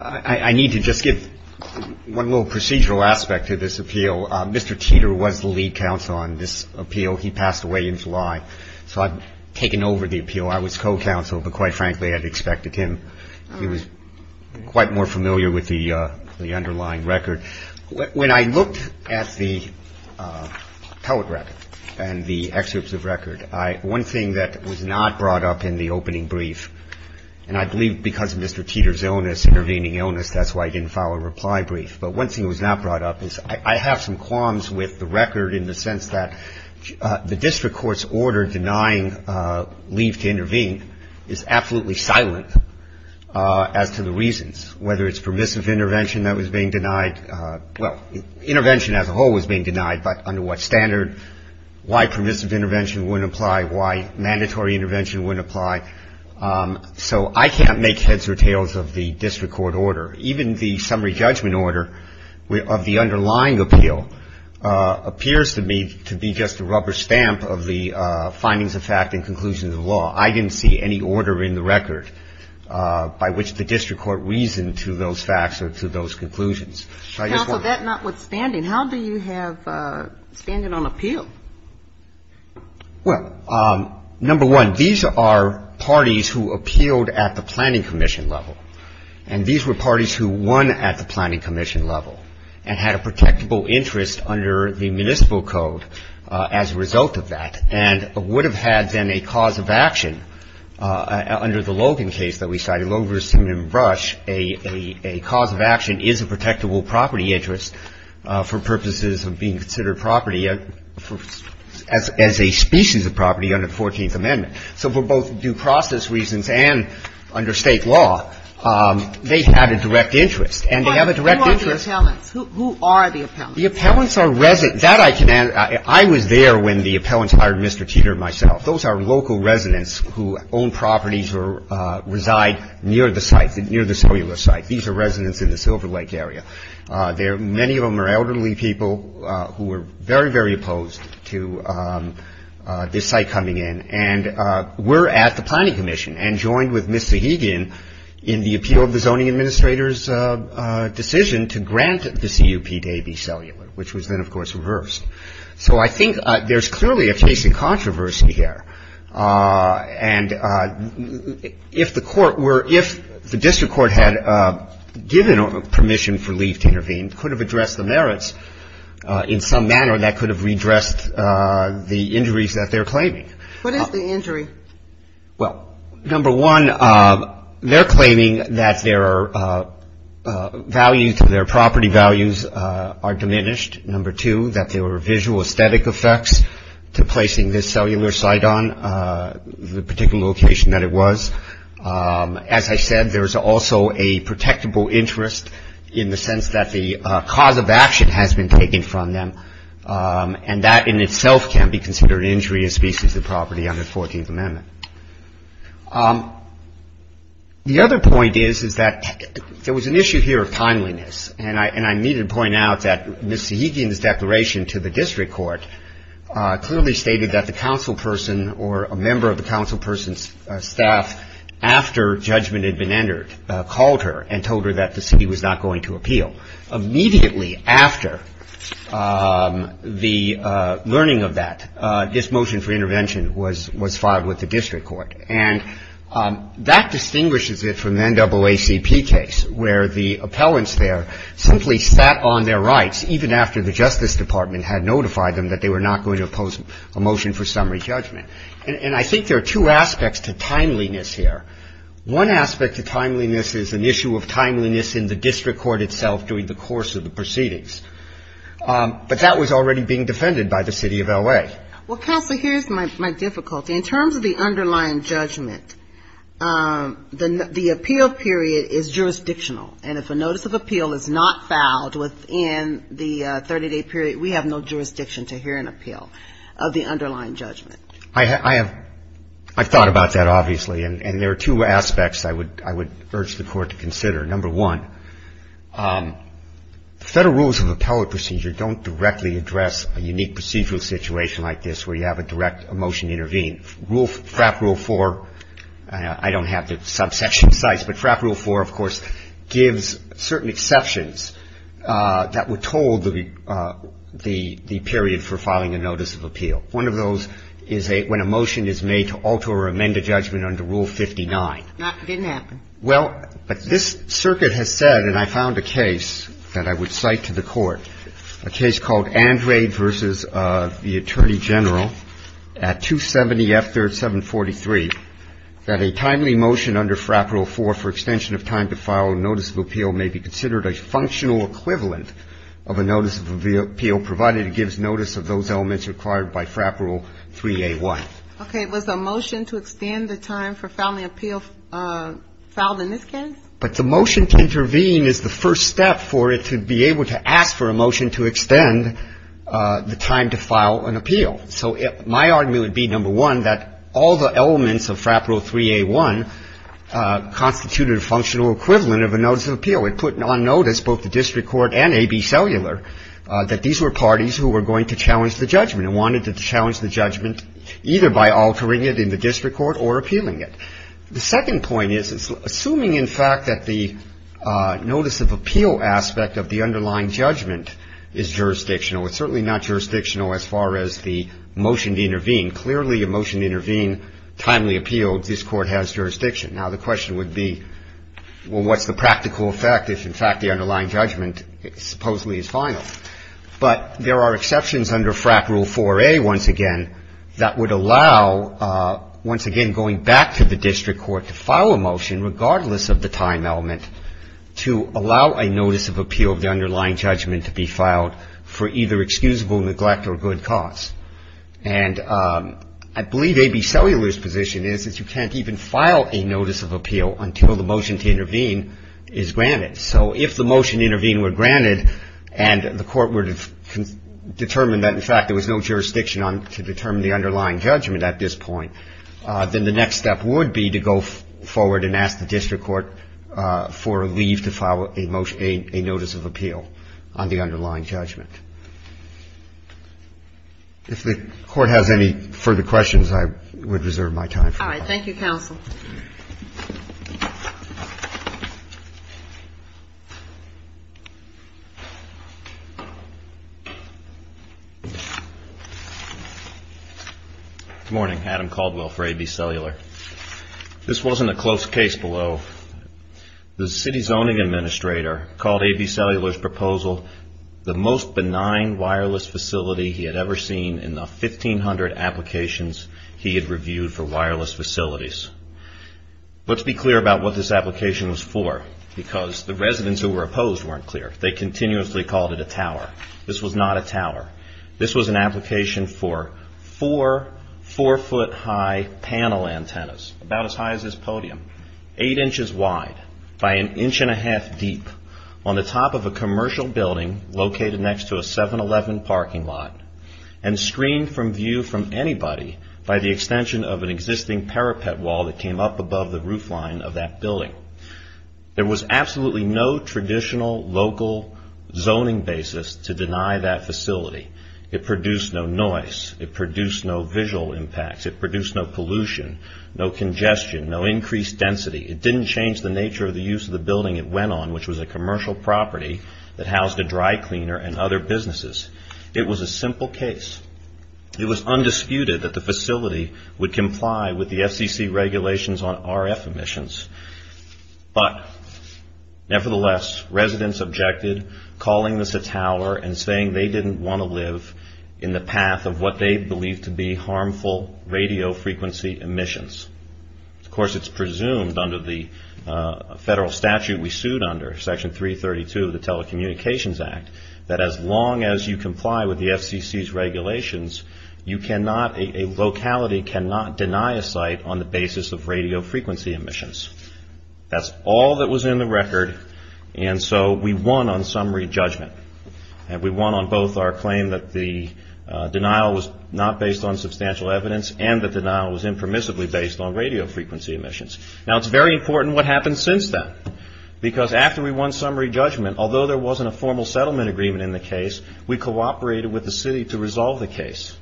I need to just give one little procedural aspect to this appeal. Mr. Teeter was the lead counsel on this appeal. He passed away in July, so I've taken over the appeal. I was co-counsel, but quite frankly, I'd expected him. He was quite more familiar with the underlying record. When I looked at the telegraph and the excerpts of record, one thing that was not brought up in the opening brief, and I believe because of Mr. Teeter's illness, intervening illness, that's why I didn't file a reply brief. But one thing that was not brought up is I have some qualms with the record in the sense that the district court's order denying leave to intervene is absolutely silent as to the reasons, whether it's permissive intervention that was being denied. Well, intervention as a whole was being denied, but under what standard, why permissive intervention wouldn't apply, why mandatory intervention wouldn't apply. So I can't make heads or tails of the district court order. Even the summary judgment order of the underlying appeal appears to me to be just a rubber stamp of the findings of fact and conclusions of law. I didn't see any order in the record by which the district court reasoned to those facts or to those conclusions. Now, so that's not what's standing. How do you have standing on appeal? Well, number one, these are parties who appealed at the planning commission level. And these were parties who won at the planning commission level and had a protectable interest under the municipal code as a result of that and would have had then a cause of action under the Logan case that we cited. And under the Logan versus Simmon & Brush, a cause of action is a protectable property interest for purposes of being considered property as a species of property under the 14th Amendment. So for both due process reasons and under State law, they had a direct interest. And they have a direct interest. But who are the appellants? Who are the appellants? The appellants are residents. That I can answer. I was there when the appellants hired Mr. Teeter and myself. Those are local residents who own properties or reside near the site, near the cellular site. These are residents in the Silver Lake area. Many of them are elderly people who are very, very opposed to this site coming in. And we're at the planning commission and joined with Ms. Zahigian in the appeal of the zoning administrator's decision to grant the CUP to AB Cellular, which was then, of course, reversed. So I think there's clearly a case of controversy here. And if the court were — if the district court had given permission for Lee to intervene, could have addressed the merits in some manner that could have redressed the injuries that they're claiming. What is the injury? Well, number one, they're claiming that their value to their property values are diminished. Number two, that there were visual aesthetic effects to placing this cellular site on, the particular location that it was. As I said, there is also a protectable interest in the sense that the cause of action has been taken from them. And that in itself can be considered an injury in species and property under the 14th Amendment. The other point is, is that there was an issue here of timeliness. And I need to point out that Ms. Zahigian's declaration to the district court clearly stated that the councilperson or a member of the councilperson's staff, after judgment had been entered, called her and told her that the city was not going to appeal. Immediately after the learning of that, this motion for intervention was filed with the district court. And that distinguishes it from the NAACP case, where the appellants there simply sat on their rights, even after the Justice Department had notified them that they were not going to oppose a motion for summary judgment. And I think there are two aspects to timeliness here. One aspect to timeliness is an issue of timeliness in the district court itself during the course of the proceedings. But that was already being defended by the city of L.A. Well, counsel, here's my difficulty. In terms of the underlying judgment, the appeal period is jurisdictional. And if a notice of appeal is not filed within the 30-day period, we have no jurisdiction to hear an appeal of the underlying judgment. I have thought about that, obviously. And there are two aspects I would urge the Court to consider. Number one, Federal rules of appellate procedure don't directly address a unique procedural situation like this, where you have a direct motion to intervene. FRAP Rule 4, I don't have the subsection size, but FRAP Rule 4, of course, gives certain exceptions that were told the period for filing a notice of appeal. One of those is when a motion is made to alter or amend a judgment under Rule 59. It didn't happen. Well, but this circuit has said, and I found a case that I would cite to the Court, a case called Andrade v. the Attorney General at 270 F. 3rd, 743, that a timely motion under FRAP Rule 4 for extension of time to file a notice of appeal may be considered a functional equivalent of a notice of appeal, provided it gives notice of those elements required by FRAP Rule 3A1. Okay. Was a motion to extend the time for filing an appeal filed in this case? But the motion to intervene is the first step for it to be able to ask for a motion to extend the time to file an appeal. So my argument would be, number one, that all the elements of FRAP Rule 3A1 constituted a functional equivalent of a notice of appeal. It put on notice both the district court and A.B. Cellular that these were parties who were going to challenge the judgment and wanted to challenge the judgment either by altering it in the district court or appealing it. The second point is, assuming, in fact, that the notice of appeal aspect of the underlying judgment is jurisdictional, it's certainly not jurisdictional as far as the motion to intervene. Clearly, a motion to intervene, timely appeal, this Court has jurisdiction. Now, the question would be, well, what's the practical effect if, in fact, the underlying judgment supposedly is final? But there are exceptions under FRAP Rule 4A, once again, that would allow, once again, going back to the district court to file a motion regardless of the time element to allow a notice of appeal of the underlying judgment to be filed for either excusable neglect or good cause. And I believe A.B. Cellular's position is that you can't even file a notice of appeal until the motion to intervene is granted. So if the motion to intervene were granted and the Court were to determine that, in fact, there was no jurisdiction to determine the underlying judgment at this point, then the next step would be to go forward and ask the district court for a leave to file a motion, a notice of appeal on the underlying judgment. If the Court has any further questions, I would reserve my time for that. All right. Thank you, Counsel. Good morning. Adam Caldwell for A.B. Cellular. This wasn't a close case below. The city zoning administrator called A.B. Cellular's proposal the most benign wireless facility he had ever seen in the 1,500 applications he had reviewed for wireless facilities. Let's be clear about what this application was for because the residents who were opposed weren't clear. They continuously called it a tower. This was not a tower. This was an application for four four-foot-high panel antennas, about as high as this podium, eight inches wide by an inch and a half deep on the top of a commercial building located next to a 7-Eleven parking lot and screened from view from anybody by the extension of an existing parapet wall that came up above the roofline of that building. There was absolutely no traditional local zoning basis to deny that facility. It produced no noise. It produced no visual impacts. It produced no pollution, no congestion, no increased density. It didn't change the nature of the use of the building it went on, which was a commercial property that housed a dry cleaner and other businesses. It was a simple case. It was undisputed that the facility would comply with the FCC regulations on RF emissions, but nevertheless, residents objected, calling this a tower and saying they didn't want to live in the path of what they believed to be harmful radio frequency emissions. Of course, it's presumed under the federal statute we sued under, Section 332 of the Telecommunications Act, that as long as you comply with the FCC's regulations, a locality cannot deny a site on the basis of radio frequency emissions. That's all that was in the record, and so we won on summary judgment. We won on both our claim that the denial was not based on substantial evidence and the denial was impermissibly based on radio frequency emissions. Now, it's very important what happened since then, because after we won summary judgment, although there wasn't a formal settlement agreement in the case, we cooperated with the city to resolve the case.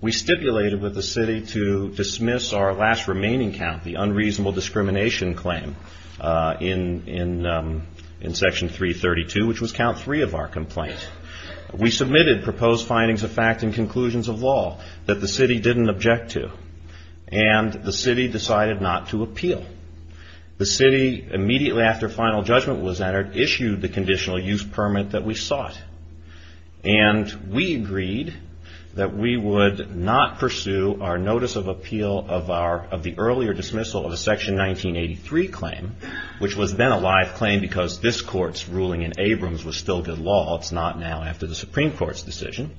We stipulated with the city to dismiss our last remaining count, the unreasonable discrimination claim, in Section 332, which was count three of our complaint. We submitted proposed findings of fact and conclusions of law that the city didn't object to, and the city decided not to appeal. The city, immediately after final judgment was entered, issued the conditional use permit that we sought, and we agreed that we would not pursue our notice of appeal of the earlier dismissal of the Section 1983 claim, which was then a live claim because this court's ruling in Abrams was still good law. It's not now after the Supreme Court's decision.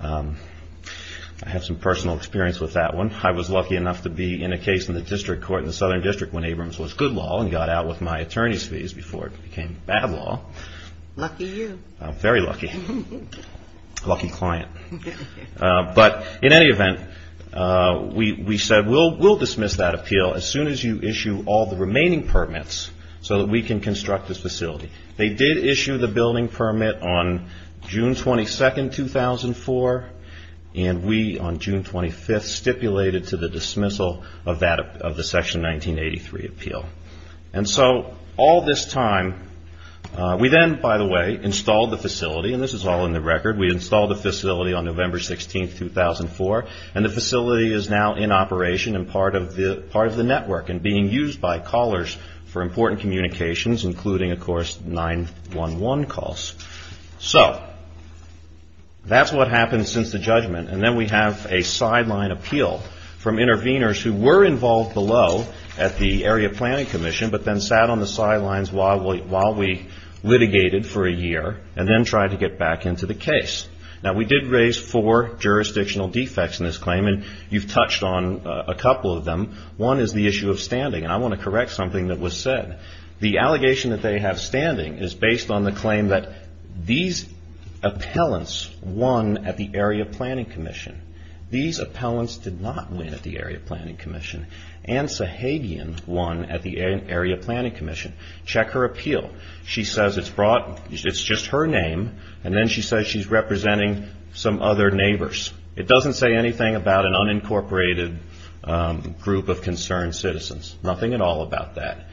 I have some personal experience with that one. I was lucky enough to be in a case in the district court in the Southern District when Abrams was good law and got out with my attorney's fees before it became bad law. Lucky you. Very lucky. Lucky client. But in any event, we said we'll dismiss that appeal as soon as you issue all the remaining permits so that we can construct this facility. They did issue the building permit on June 22nd, 2004, and we, on June 25th, stipulated to the dismissal of the Section 1983 appeal. And so all this time, we then, by the way, installed the facility, and this is all in the record. We installed the facility on November 16th, 2004, and the facility is now in operation and part of the network and being used by callers for important communications, including, of course, 911 calls. So that's what happened since the judgment, and then we have a sideline appeal from interveners who were involved below at the Area Planning Commission but then sat on the sidelines while we litigated for a year and then tried to get back into the case. Now, we did raise four jurisdictional defects in this claim, and you've touched on a couple of them. One is the issue of standing, and I want to correct something that was said. The allegation that they have standing is based on the claim that these appellants won at the Area Planning Commission. These appellants did not win at the Area Planning Commission. Ann Sahagian won at the Area Planning Commission. Check her appeal. She says it's just her name, and then she says she's representing some other neighbors. It doesn't say anything about an unincorporated group of concerned citizens. Nothing at all about that.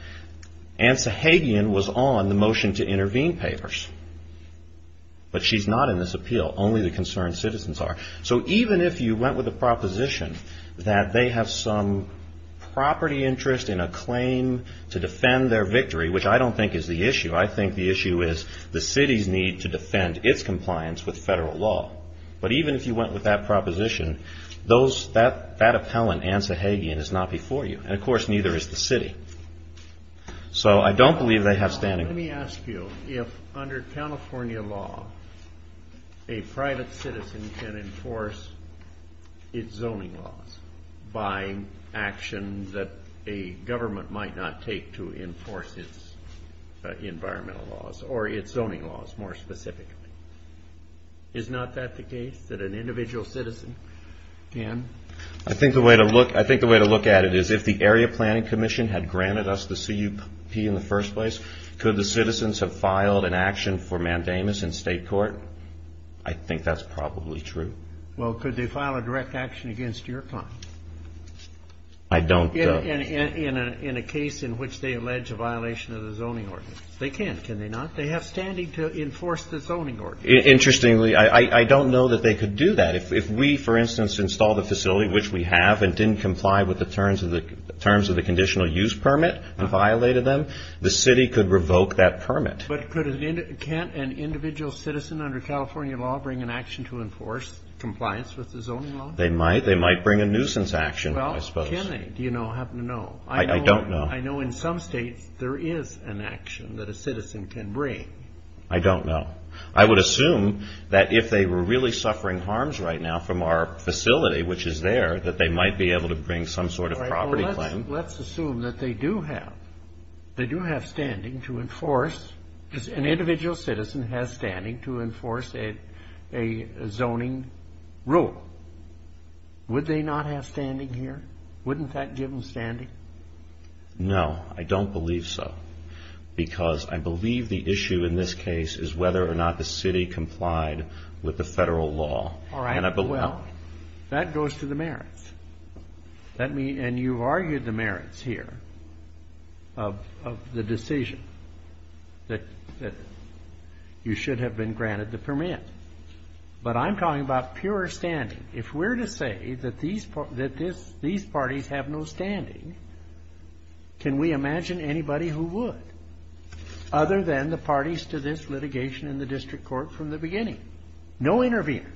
Ann Sahagian was on the motion to intervene papers, but she's not in this appeal. Only the concerned citizens are. So even if you went with a proposition that they have some property interest in a claim to defend their victory, which I don't think is the issue. I think the issue is the city's need to defend its compliance with federal law, but even if you went with that proposition, that appellant, Ann Sahagian, is not before you, and of course neither is the city. So I don't believe they have standing. Let me ask you if under California law, a private citizen can enforce its zoning laws by actions that a government might not take to enforce its environmental laws or its zoning laws more specifically. Is not that the case, that an individual citizen can? I think the way to look at it is if the Area Planning Commission had granted us the CUP in the first place, could the citizens have filed an action for mandamus in state court? I think that's probably true. Well, could they file a direct action against your client? I don't know. In a case in which they allege a violation of the zoning ordinance. They can't, can they not? They have standing to enforce the zoning ordinance. Interestingly, I don't know that they could do that. If we, for instance, install the facility, which we have, and didn't comply with the terms of the conditional use permit and violated them, the city could revoke that permit. But can't an individual citizen under California law bring an action to enforce compliance with the zoning law? They might. They might bring a nuisance action, I suppose. Well, can they? Do you happen to know? I don't know. I know in some states there is an action that a citizen can bring. I don't know. I would assume that if they were really suffering harms right now from our facility, which is there, that they might be able to bring some sort of property claim. Let's assume that they do have standing to enforce, an individual citizen has standing to enforce a zoning rule. Wouldn't that give them standing? No. I don't believe so. Because I believe the issue in this case is whether or not the city complied with the federal law. All right. Well, that goes to the merits. And you've argued the merits here of the decision that you should have been granted the permit. But I'm talking about pure standing. If we're to say that these parties have no standing, can we imagine anybody who would, other than the parties to this litigation in the district court from the beginning? No intervener.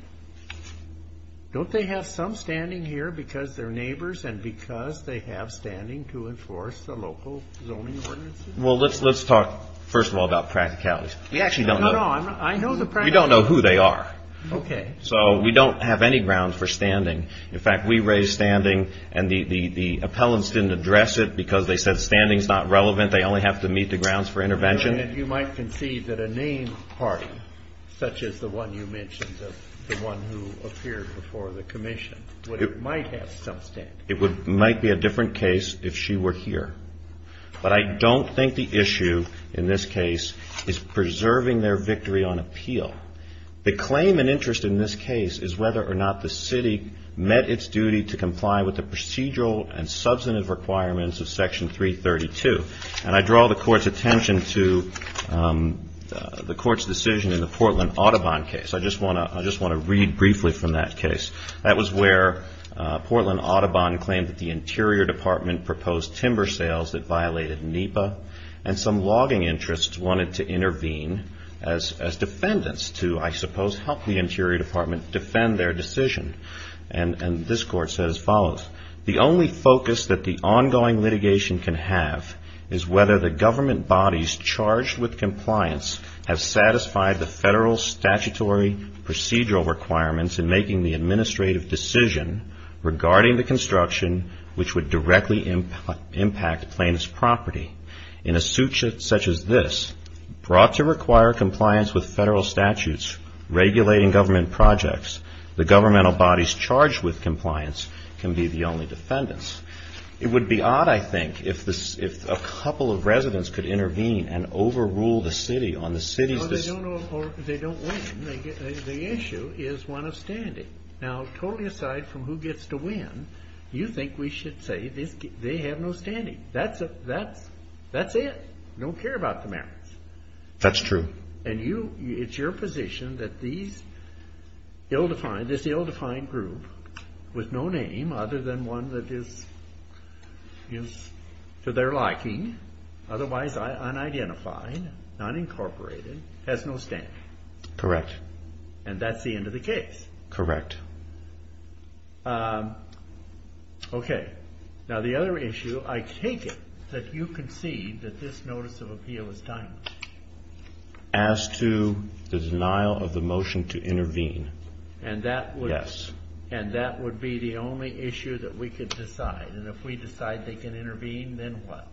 Don't they have some standing here because they're neighbors and because they have standing to enforce the local zoning ordinances? Well, let's talk, first of all, about practicalities. We actually don't know. No, no. I know the practicalities. We don't know who they are. Okay. So we don't have any ground for standing. In fact, we raised standing and the appellants didn't address it because they said standing is not relevant. They only have to meet the grounds for intervention. You might concede that a named party, such as the one you mentioned, the one who appeared before the commission, might have some standing. It might be a different case if she were here. But I don't think the issue in this case is preserving their victory on appeal. The claim and interest in this case is whether or not the city met its duty to comply with the procedural and substantive requirements of Section 332. And I draw the court's attention to the court's decision in the Portland Audubon case. I just want to read briefly from that case. That was where Portland Audubon claimed that the Interior Department proposed timber sales that violated NEPA and some logging interests wanted to intervene as defendants to, I suppose, help the Interior Department defend their decision. And this court said as follows, the only focus that the ongoing litigation can have is whether the government bodies charged with compliance have satisfied the federal statutory procedural requirements in making the administrative decision regarding the construction which would directly impact plaintiff's property. In a suit such as this, brought to require compliance with federal statutes regulating government projects, the governmental bodies charged with compliance can be the only defendants. It would be odd, I think, if a couple of residents could intervene and overrule the city on the city's decision. They don't win. The issue is one of standing. Now, totally aside from who gets to win, you think we should say they have no standing. That's it. We don't care about the merits. That's true. And it's your position that this ill-defined group with no name other than one that is to their liking, otherwise unidentified, not incorporated, has no standing. Correct. And that's the end of the case. Correct. Okay. Now, the other issue, I take it that you concede that this notice of appeal is done. As to the denial of the motion to intervene, yes. And that would be the only issue that we could decide. And if we decide they can intervene, then what?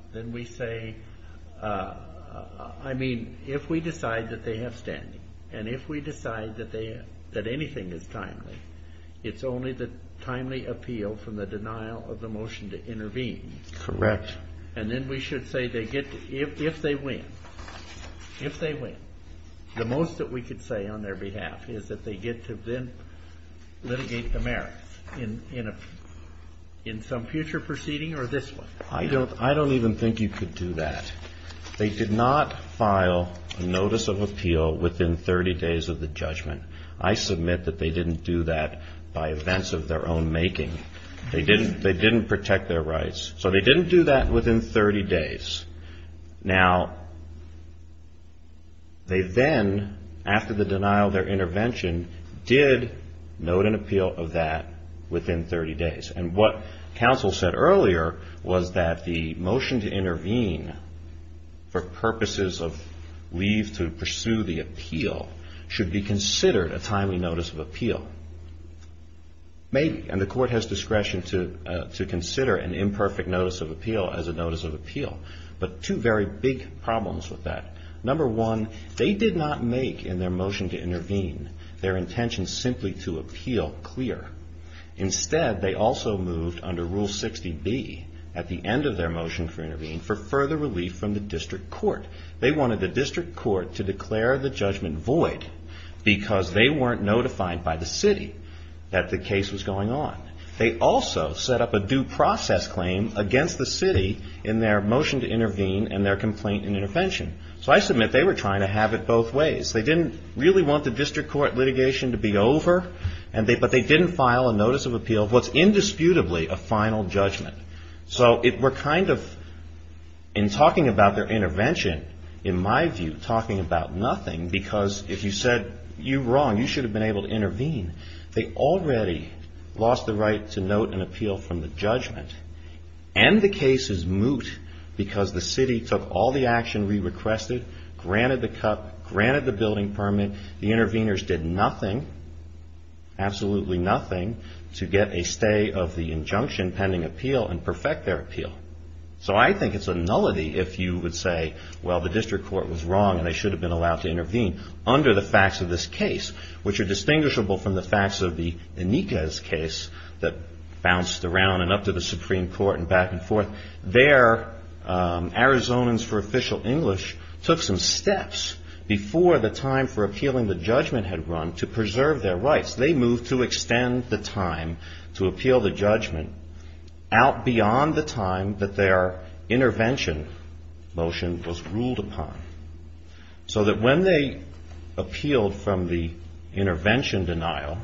I mean, if we decide that they have standing, and if we decide that anything is timely, it's only the timely appeal from the denial of the motion to intervene. Correct. And then we should say they get to, if they win, if they win, the most that we could say on their behalf is that they get to then litigate the merits in some future proceeding or this one. I don't even think you could do that. They did not file a notice of appeal within 30 days of the judgment. I submit that they didn't do that by events of their own making. They didn't protect their rights. So they didn't do that within 30 days. Now, they then, after the denial of their intervention, did note an appeal of that within 30 days. And what counsel said earlier was that the motion to intervene for purposes of leave to pursue the appeal should be considered a timely notice of appeal. Maybe. And the court has discretion to consider an imperfect notice of appeal as a notice of appeal. But two very big problems with that. Number one, they did not make in their motion to intervene their intention simply to appeal clear. Instead, they also moved under Rule 60B at the end of their motion for intervene for further relief from the district court. They wanted the district court to declare the judgment void because they weren't notified by the city that the case was going on. They also set up a due process claim against the city in their motion to intervene and their complaint and intervention. So I submit they were trying to have it both ways. They didn't really want the district court litigation to be over. But they didn't file a notice of appeal of what's indisputably a final judgment. So we're kind of, in talking about their intervention, in my view, talking about nothing. Because if you said you were wrong, you should have been able to intervene. They already lost the right to note an appeal from the judgment. And the case is moot because the city took all the action we requested, granted the cup, granted the building permit. The interveners did nothing, absolutely nothing, to get a stay of the injunction pending appeal and perfect their appeal. So I think it's a nullity if you would say, well, the district court was wrong and they should have been allowed to intervene under the facts of this case, which are distinguishable from the facts of the Enriquez case that bounced around and up to the Supreme Court and back and forth. There, Arizonans for Official English took some steps before the time for appealing the judgment had run to preserve their rights. They moved to extend the time to appeal the judgment out beyond the time that their intervention motion was ruled upon. So that when they appealed from the intervention denial,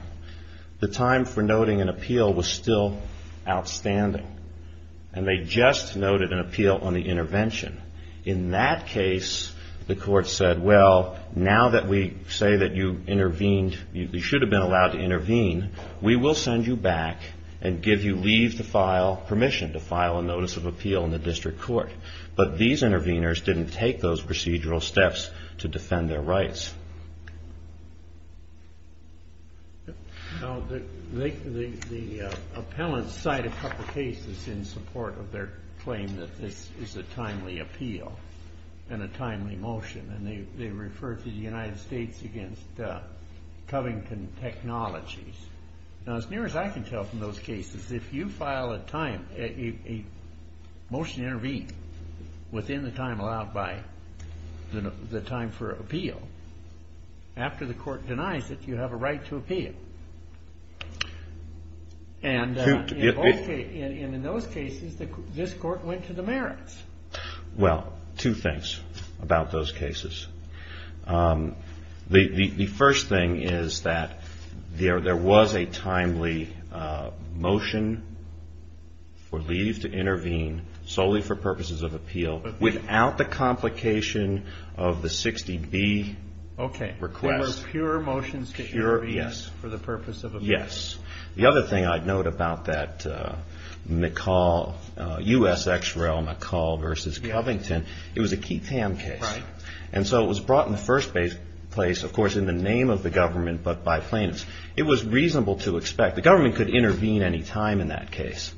the time for noting an appeal was still outstanding. And they just noted an appeal on the intervention. In that case, the court said, well, now that we say that you intervened, you should have been allowed to intervene, we will send you back and give you leave to file permission to file a notice of appeal in the district court. But these interveners didn't take those procedural steps to defend their rights. Now, the appellants cited a couple of cases in support of their claim that this is a timely appeal and a timely motion. And they referred to the United States against Covington Technologies. Now, as near as I can tell from those cases, if you file a motion to intervene within the time allowed by the time for appeal, after the court denies it, you have a right to appeal. And in those cases, this court went to the merits. Well, two things about those cases. The first thing is that there was a timely motion for leave to intervene solely for purposes of appeal, without the complication of the 60B request. Okay, there were pure motions to intervene for the purpose of appeal. Yes. The other thing I'd note about that McCall, U.S. ex-rel McCall versus Covington, it was a Keith Hamm case. Right. And so it was brought in the first place, of course, in the name of the government, but by plaintiffs. It was reasonable to expect. The government could intervene any time in that case.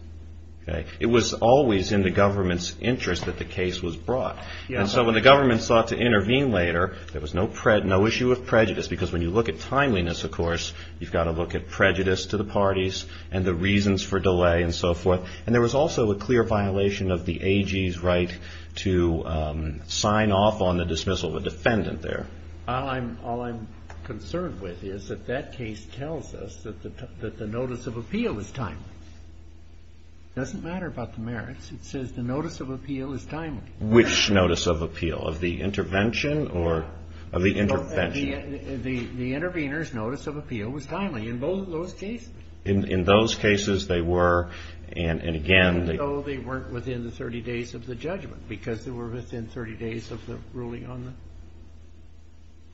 It was always in the government's interest that the case was brought. And so when the government sought to intervene later, there was no issue of prejudice, because when you look at timeliness, of course, you've got to look at prejudice to the parties and the reasons for delay and so forth. And there was also a clear violation of the AG's right to sign off on the dismissal of a defendant there. All I'm concerned with is that that case tells us that the notice of appeal is timely. It doesn't matter about the merits. It says the notice of appeal is timely. Which notice of appeal? Of the intervention or of the intervention? The intervener's notice of appeal was timely in both of those cases. In those cases, they were, and again. So they weren't within the 30 days of the judgment, because they were within 30 days of the ruling on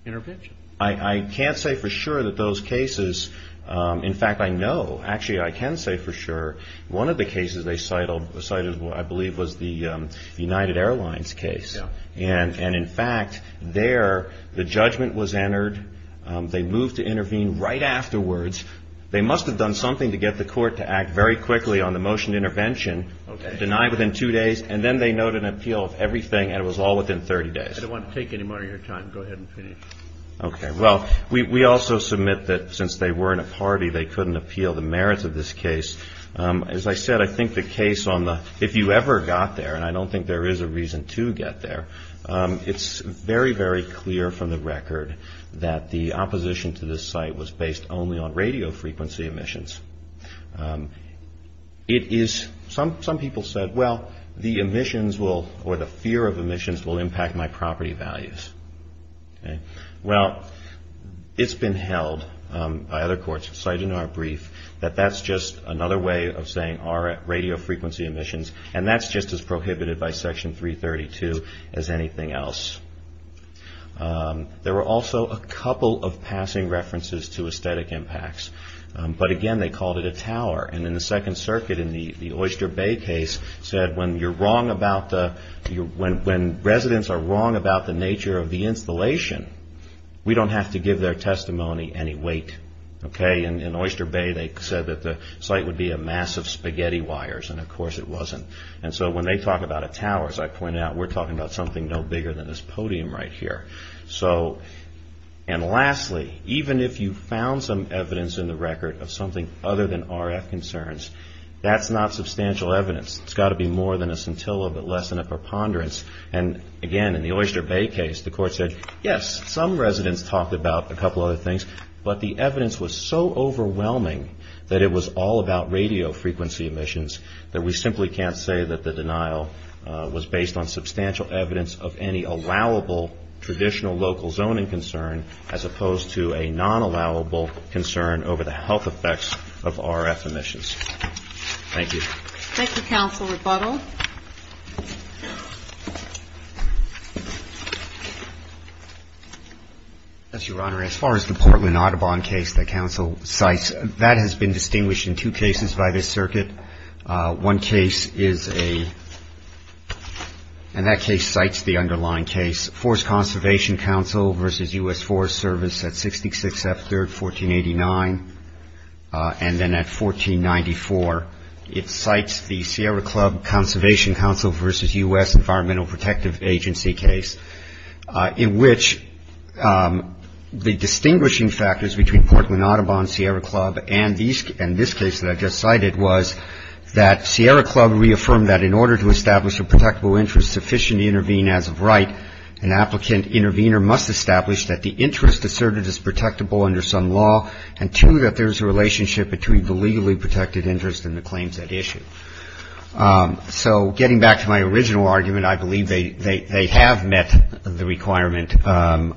the intervention. I can't say for sure that those cases. In fact, I know. Actually, I can say for sure. One of the cases they cited, I believe, was the United Airlines case. And in fact, there, the judgment was entered. They moved to intervene right afterwards. They must have done something to get the Court to act very quickly on the motioned intervention. Okay. Denied within two days. And then they noted an appeal of everything, and it was all within 30 days. I don't want to take any more of your time. Go ahead and finish. Okay. Well, we also submit that since they were in a party, they couldn't appeal the merits of this case. As I said, I think the case on the, if you ever got there, and I don't think there is a reason to get there, it's very, very clear from the record that the opposition to this site was based only on radio frequency emissions. It is, some people said, well, the emissions will, or the fear of emissions will impact my property values. Okay. Well, it's been held by other courts, cited in our brief, that that's just another way of saying our radio frequency emissions, and that's just as prohibited by Section 332 as anything else. There were also a couple of passing references to aesthetic impacts, but again, they called it a tower. And in the Second Circuit, in the Oyster Bay case, said when you're wrong about the, when residents are wrong about the nature of the installation, we don't have to give their testimony any weight. Okay. In Oyster Bay, they said that the site would be a mass of spaghetti wires, and of course it wasn't. And so when they talk about a tower, as I pointed out, we're talking about something no bigger than this podium right here. So, and lastly, even if you found some evidence in the record of something other than RF concerns, that's not substantial evidence. It's got to be more than a scintilla, but less than a preponderance. And again, in the Oyster Bay case, the court said, yes, some residents talked about a couple other things, but the evidence was so overwhelming that it was all about radio frequency emissions, that we simply can't say that the denial was based on substantial evidence of any allowable traditional local zoning concern, as opposed to a non-allowable concern over the health effects of RF emissions. Thank you. Thank you, Counsel Rebuttal. Thank you, Your Honor. As far as the Portland Audubon case that counsel cites, that has been distinguished in two cases by this circuit. One case is a, and that case cites the underlying case, Forest Conservation Council versus U.S. Forest Service at 66 F 3rd, 1489. And then at 1494, it cites the Sierra Club Conservation Council versus U.S. Environmental Protective Agency case, in which the distinguishing factors between Portland Audubon, Sierra Club, and this case that I just cited, was that Sierra Club reaffirmed that in order to establish a protectable interest sufficient to intervene as of right, an applicant intervener must establish that the interest asserted is protectable under some law and two, that there is a relationship between the legally protected interest and the claims at issue. So getting back to my original argument, I believe they have met the requirement under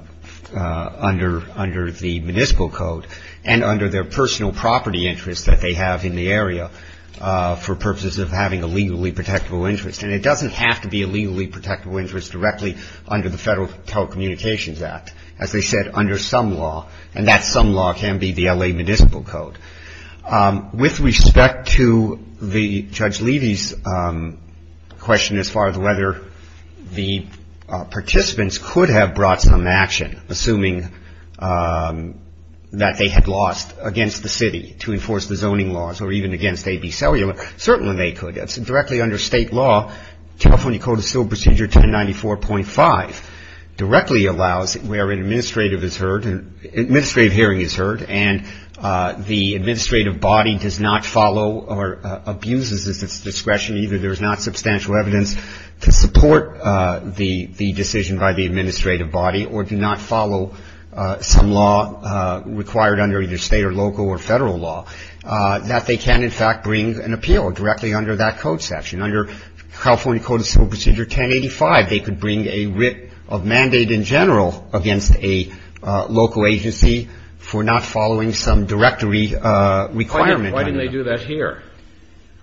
the municipal code and under their personal property interest that they have in the area for purposes of having a legally protectable interest. And it doesn't have to be a legally protectable interest directly under the Federal Telecommunications Act. As they said, under some law, and that some law can be the L.A. Municipal Code. With respect to Judge Levy's question as far as whether the participants could have brought some action, assuming that they had lost against the city to enforce the zoning laws or even against A.B. Cellular, certainly they could. Directly under state law, California Code of Civil Procedure 1094.5 directly allows where an administrative hearing is heard and the administrative body does not follow or abuses its discretion, either there is not substantial evidence to support the decision by the administrative body or do not follow some law required under either state or local or Federal law, that they can in fact bring an appeal directly under that code section. Under California Code of Civil Procedure 1085, they could bring a writ of mandate in general against a local agency for not following some directory requirement. Why didn't they do that here?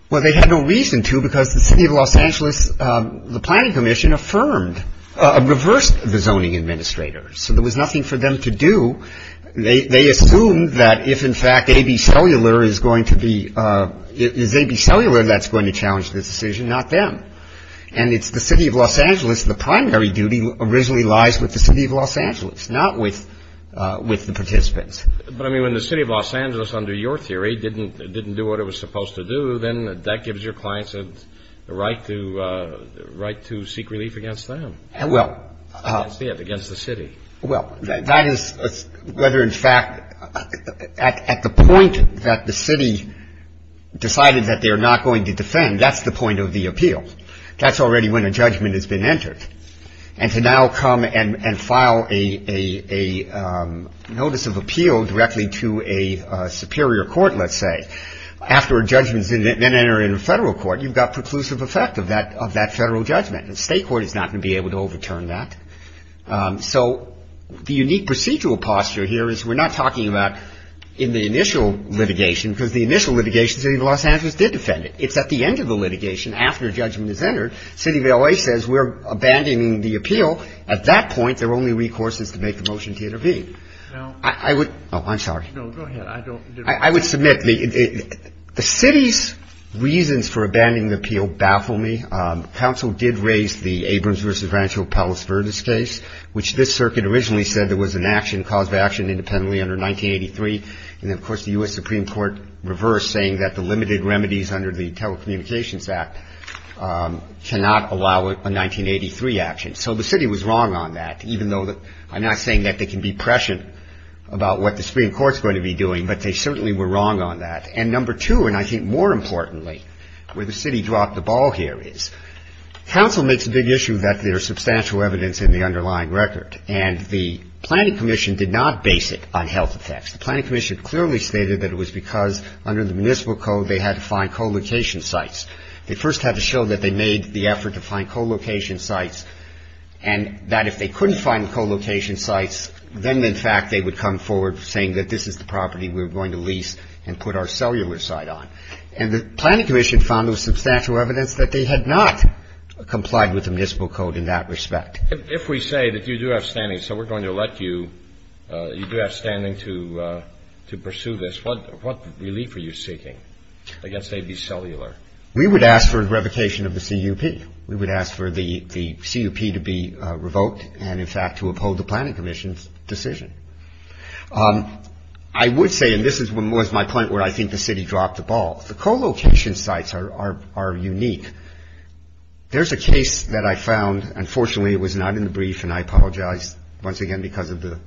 Well, they had no reason to because the City of Los Angeles, the Planning Commission, affirmed, reversed the zoning administrators. So there was nothing for them to do. They assumed that if in fact A.B. Cellular is going to be, is A.B. Cellular that's going to challenge this decision, not them. And it's the City of Los Angeles, the primary duty originally lies with the City of Los Angeles, not with the participants. But, I mean, when the City of Los Angeles, under your theory, didn't do what it was supposed to do, then that gives your clients the right to seek relief against them. Well. Against the city. Well, that is whether in fact at the point that the city decided that they're not going to defend, that's the point of the appeal. That's already when a judgment has been entered. And to now come and file a notice of appeal directly to a superior court, let's say, after a judgment has been entered in a federal court, you've got preclusive effect of that federal judgment. The state court is not going to be able to overturn that. So the unique procedural posture here is we're not talking about in the initial litigation, because the initial litigation, the City of Los Angeles did defend it. It's at the end of the litigation, after a judgment is entered, the City of L.A. says we're abandoning the appeal. At that point, their only recourse is to make the motion to intervene. Now. I would. Oh, I'm sorry. No, go ahead. I don't. I would submit the city's reasons for abandoning the appeal baffle me. Council did raise the Abrams versus Rancho Palos Verdes case, which this circuit originally said there was an action, cause of action independently under 1983. And, of course, the U.S. Supreme Court reversed, saying that the limited remedies under the Telecommunications Act cannot allow a 1983 action. So the city was wrong on that, even though I'm not saying that they can be prescient about what the Supreme Court is going to be doing. But they certainly were wrong on that. And number two, and I think more importantly, where the city dropped the ball here is, council makes a big issue that there is substantial evidence in the underlying record. And the Planning Commission did not base it on health effects. The Planning Commission clearly stated that it was because under the municipal code they had to find co-location sites. They first had to show that they made the effort to find co-location sites, and that if they couldn't find co-location sites, then, in fact, they would come forward saying that this is the property we're going to lease and put our cellular site on. And the Planning Commission found there was substantial evidence that they had not complied with the municipal code in that respect. If we say that you do have standing, so we're going to let you, you do have standing to pursue this, what relief are you seeking against AB Cellular? We would ask for revocation of the CUP. We would ask for the CUP to be revoked and, in fact, to uphold the Planning Commission's decision. I would say, and this was my point where I think the city dropped the ball, the co-location sites are unique. There's a case that I found, unfortunately, it was not in the brief, and I apologize once again because of the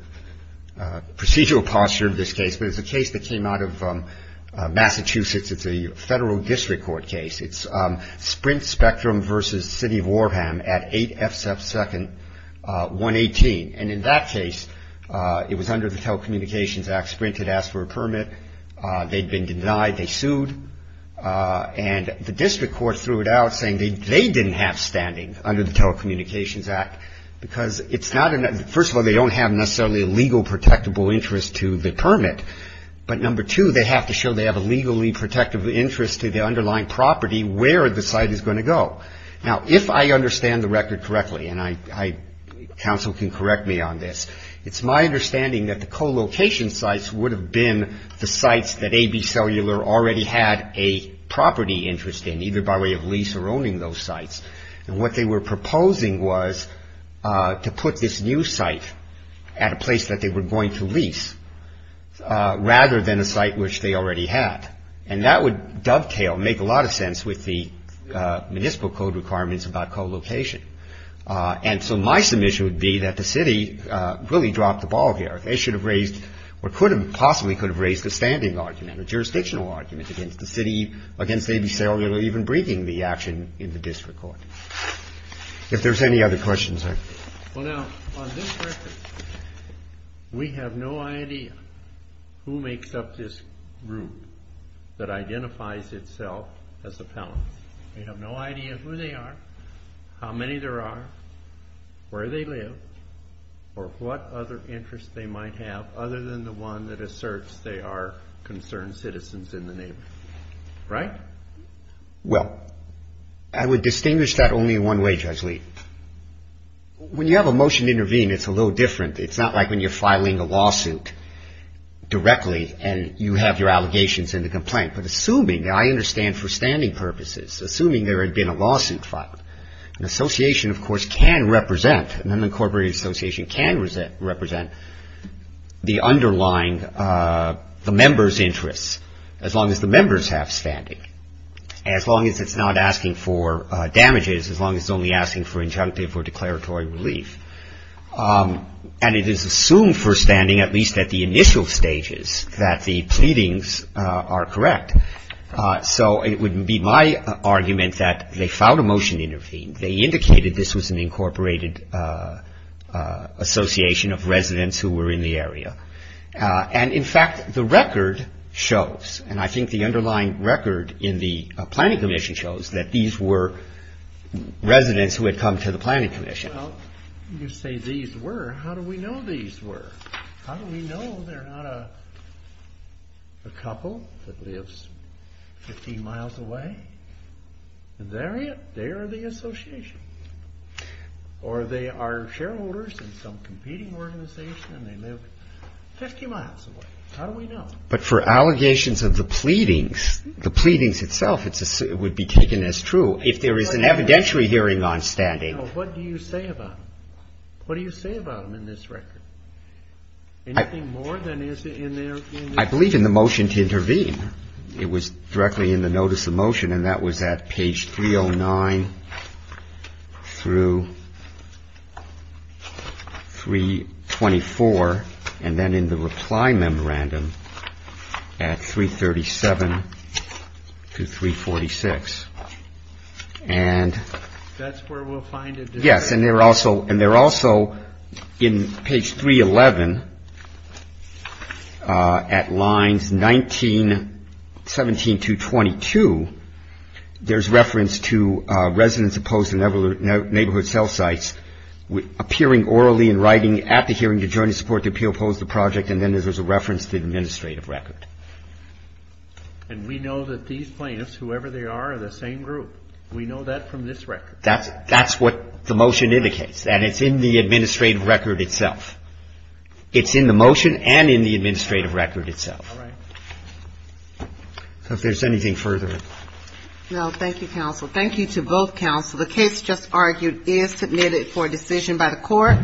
procedural posture of this case, but it's a case that came out of Massachusetts. It's a federal district court case. It's Sprint Spectrum versus City of Warham at 8F2nd 118. And in that case, it was under the Telecommunications Act. Sprint had asked for a permit. They'd been denied. They sued. And the district court threw it out saying they didn't have standing under the Telecommunications Act because it's not, first of all, they don't have necessarily a legal protectable interest to the permit, but number two, they have to show they have a legally protectable interest to the underlying property where the site is going to go. Now, if I understand the record correctly, and counsel can correct me on this, it's my understanding that the co-location sites would have been the sites that ABCellular already had a property interest in, either by way of lease or owning those sites. And what they were proposing was to put this new site at a place that they were going to lease rather than a site which they already had. And that would dovetail, make a lot of sense with the municipal code requirements about co-location. And so my submission would be that the city really dropped the ball here. They should have raised or could have possibly could have raised a standing argument, a jurisdictional argument against the city, against ABCellular even breaking the action in the district court. If there's any other questions, I... Well, now, on this record, we have no idea who makes up this group that identifies itself as appellant. We have no idea who they are, how many there are, where they live, or what other interests they might have other than the one that asserts they are concerned citizens in the neighborhood. Right? Well, I would distinguish that only one way, Judge Lee. When you have a motion to intervene, it's a little different. It's not like when you're filing a lawsuit directly and you have your allegations in the complaint. But assuming, I understand for standing purposes, assuming there had been a lawsuit filed, an association, of course, can represent, an unincorporated association can represent the underlying, the member's interests, as long as the members have standing, as long as it's not asking for damages, as long as it's only asking for injunctive or declaratory relief. And it is assumed for standing, at least at the initial stages, that the pleadings are correct. So it would be my argument that they filed a motion to intervene. They indicated this was an incorporated association of residents who were in the area. And, in fact, the record shows, and I think the underlying record in the planning commission shows, that these were residents who had come to the planning commission. Well, you say these were. How do we know these were? How do we know they're not a couple that lives 15 miles away? They are the association. Or they are shareholders in some competing organization and they live 50 miles away. How do we know? But for allegations of the pleadings, the pleadings itself, it would be taken as true. If there is an evidentiary hearing on standing. What do you say about them? What do you say about them in this record? Anything more than is in there? I believe in the motion to intervene. It was directly in the notice of motion, and that was at page 309 through 324, and then in the reply memorandum at 337 to 346. That's where we'll find it. Yes, and they're also in page 311 at lines 19, 17 to 22, there's reference to residents opposed to neighborhood cell sites appearing orally and writing at the hearing to join in support of the appeal, oppose the project, and then there's a reference to the administrative record. And we know that these plaintiffs, whoever they are, are the same group. We know that from this record. That's what the motion indicates, and it's in the administrative record itself. It's in the motion and in the administrative record itself. All right. If there's anything further. No, thank you, counsel. Thank you to both counsel. The case just argued is submitted for decision by the court.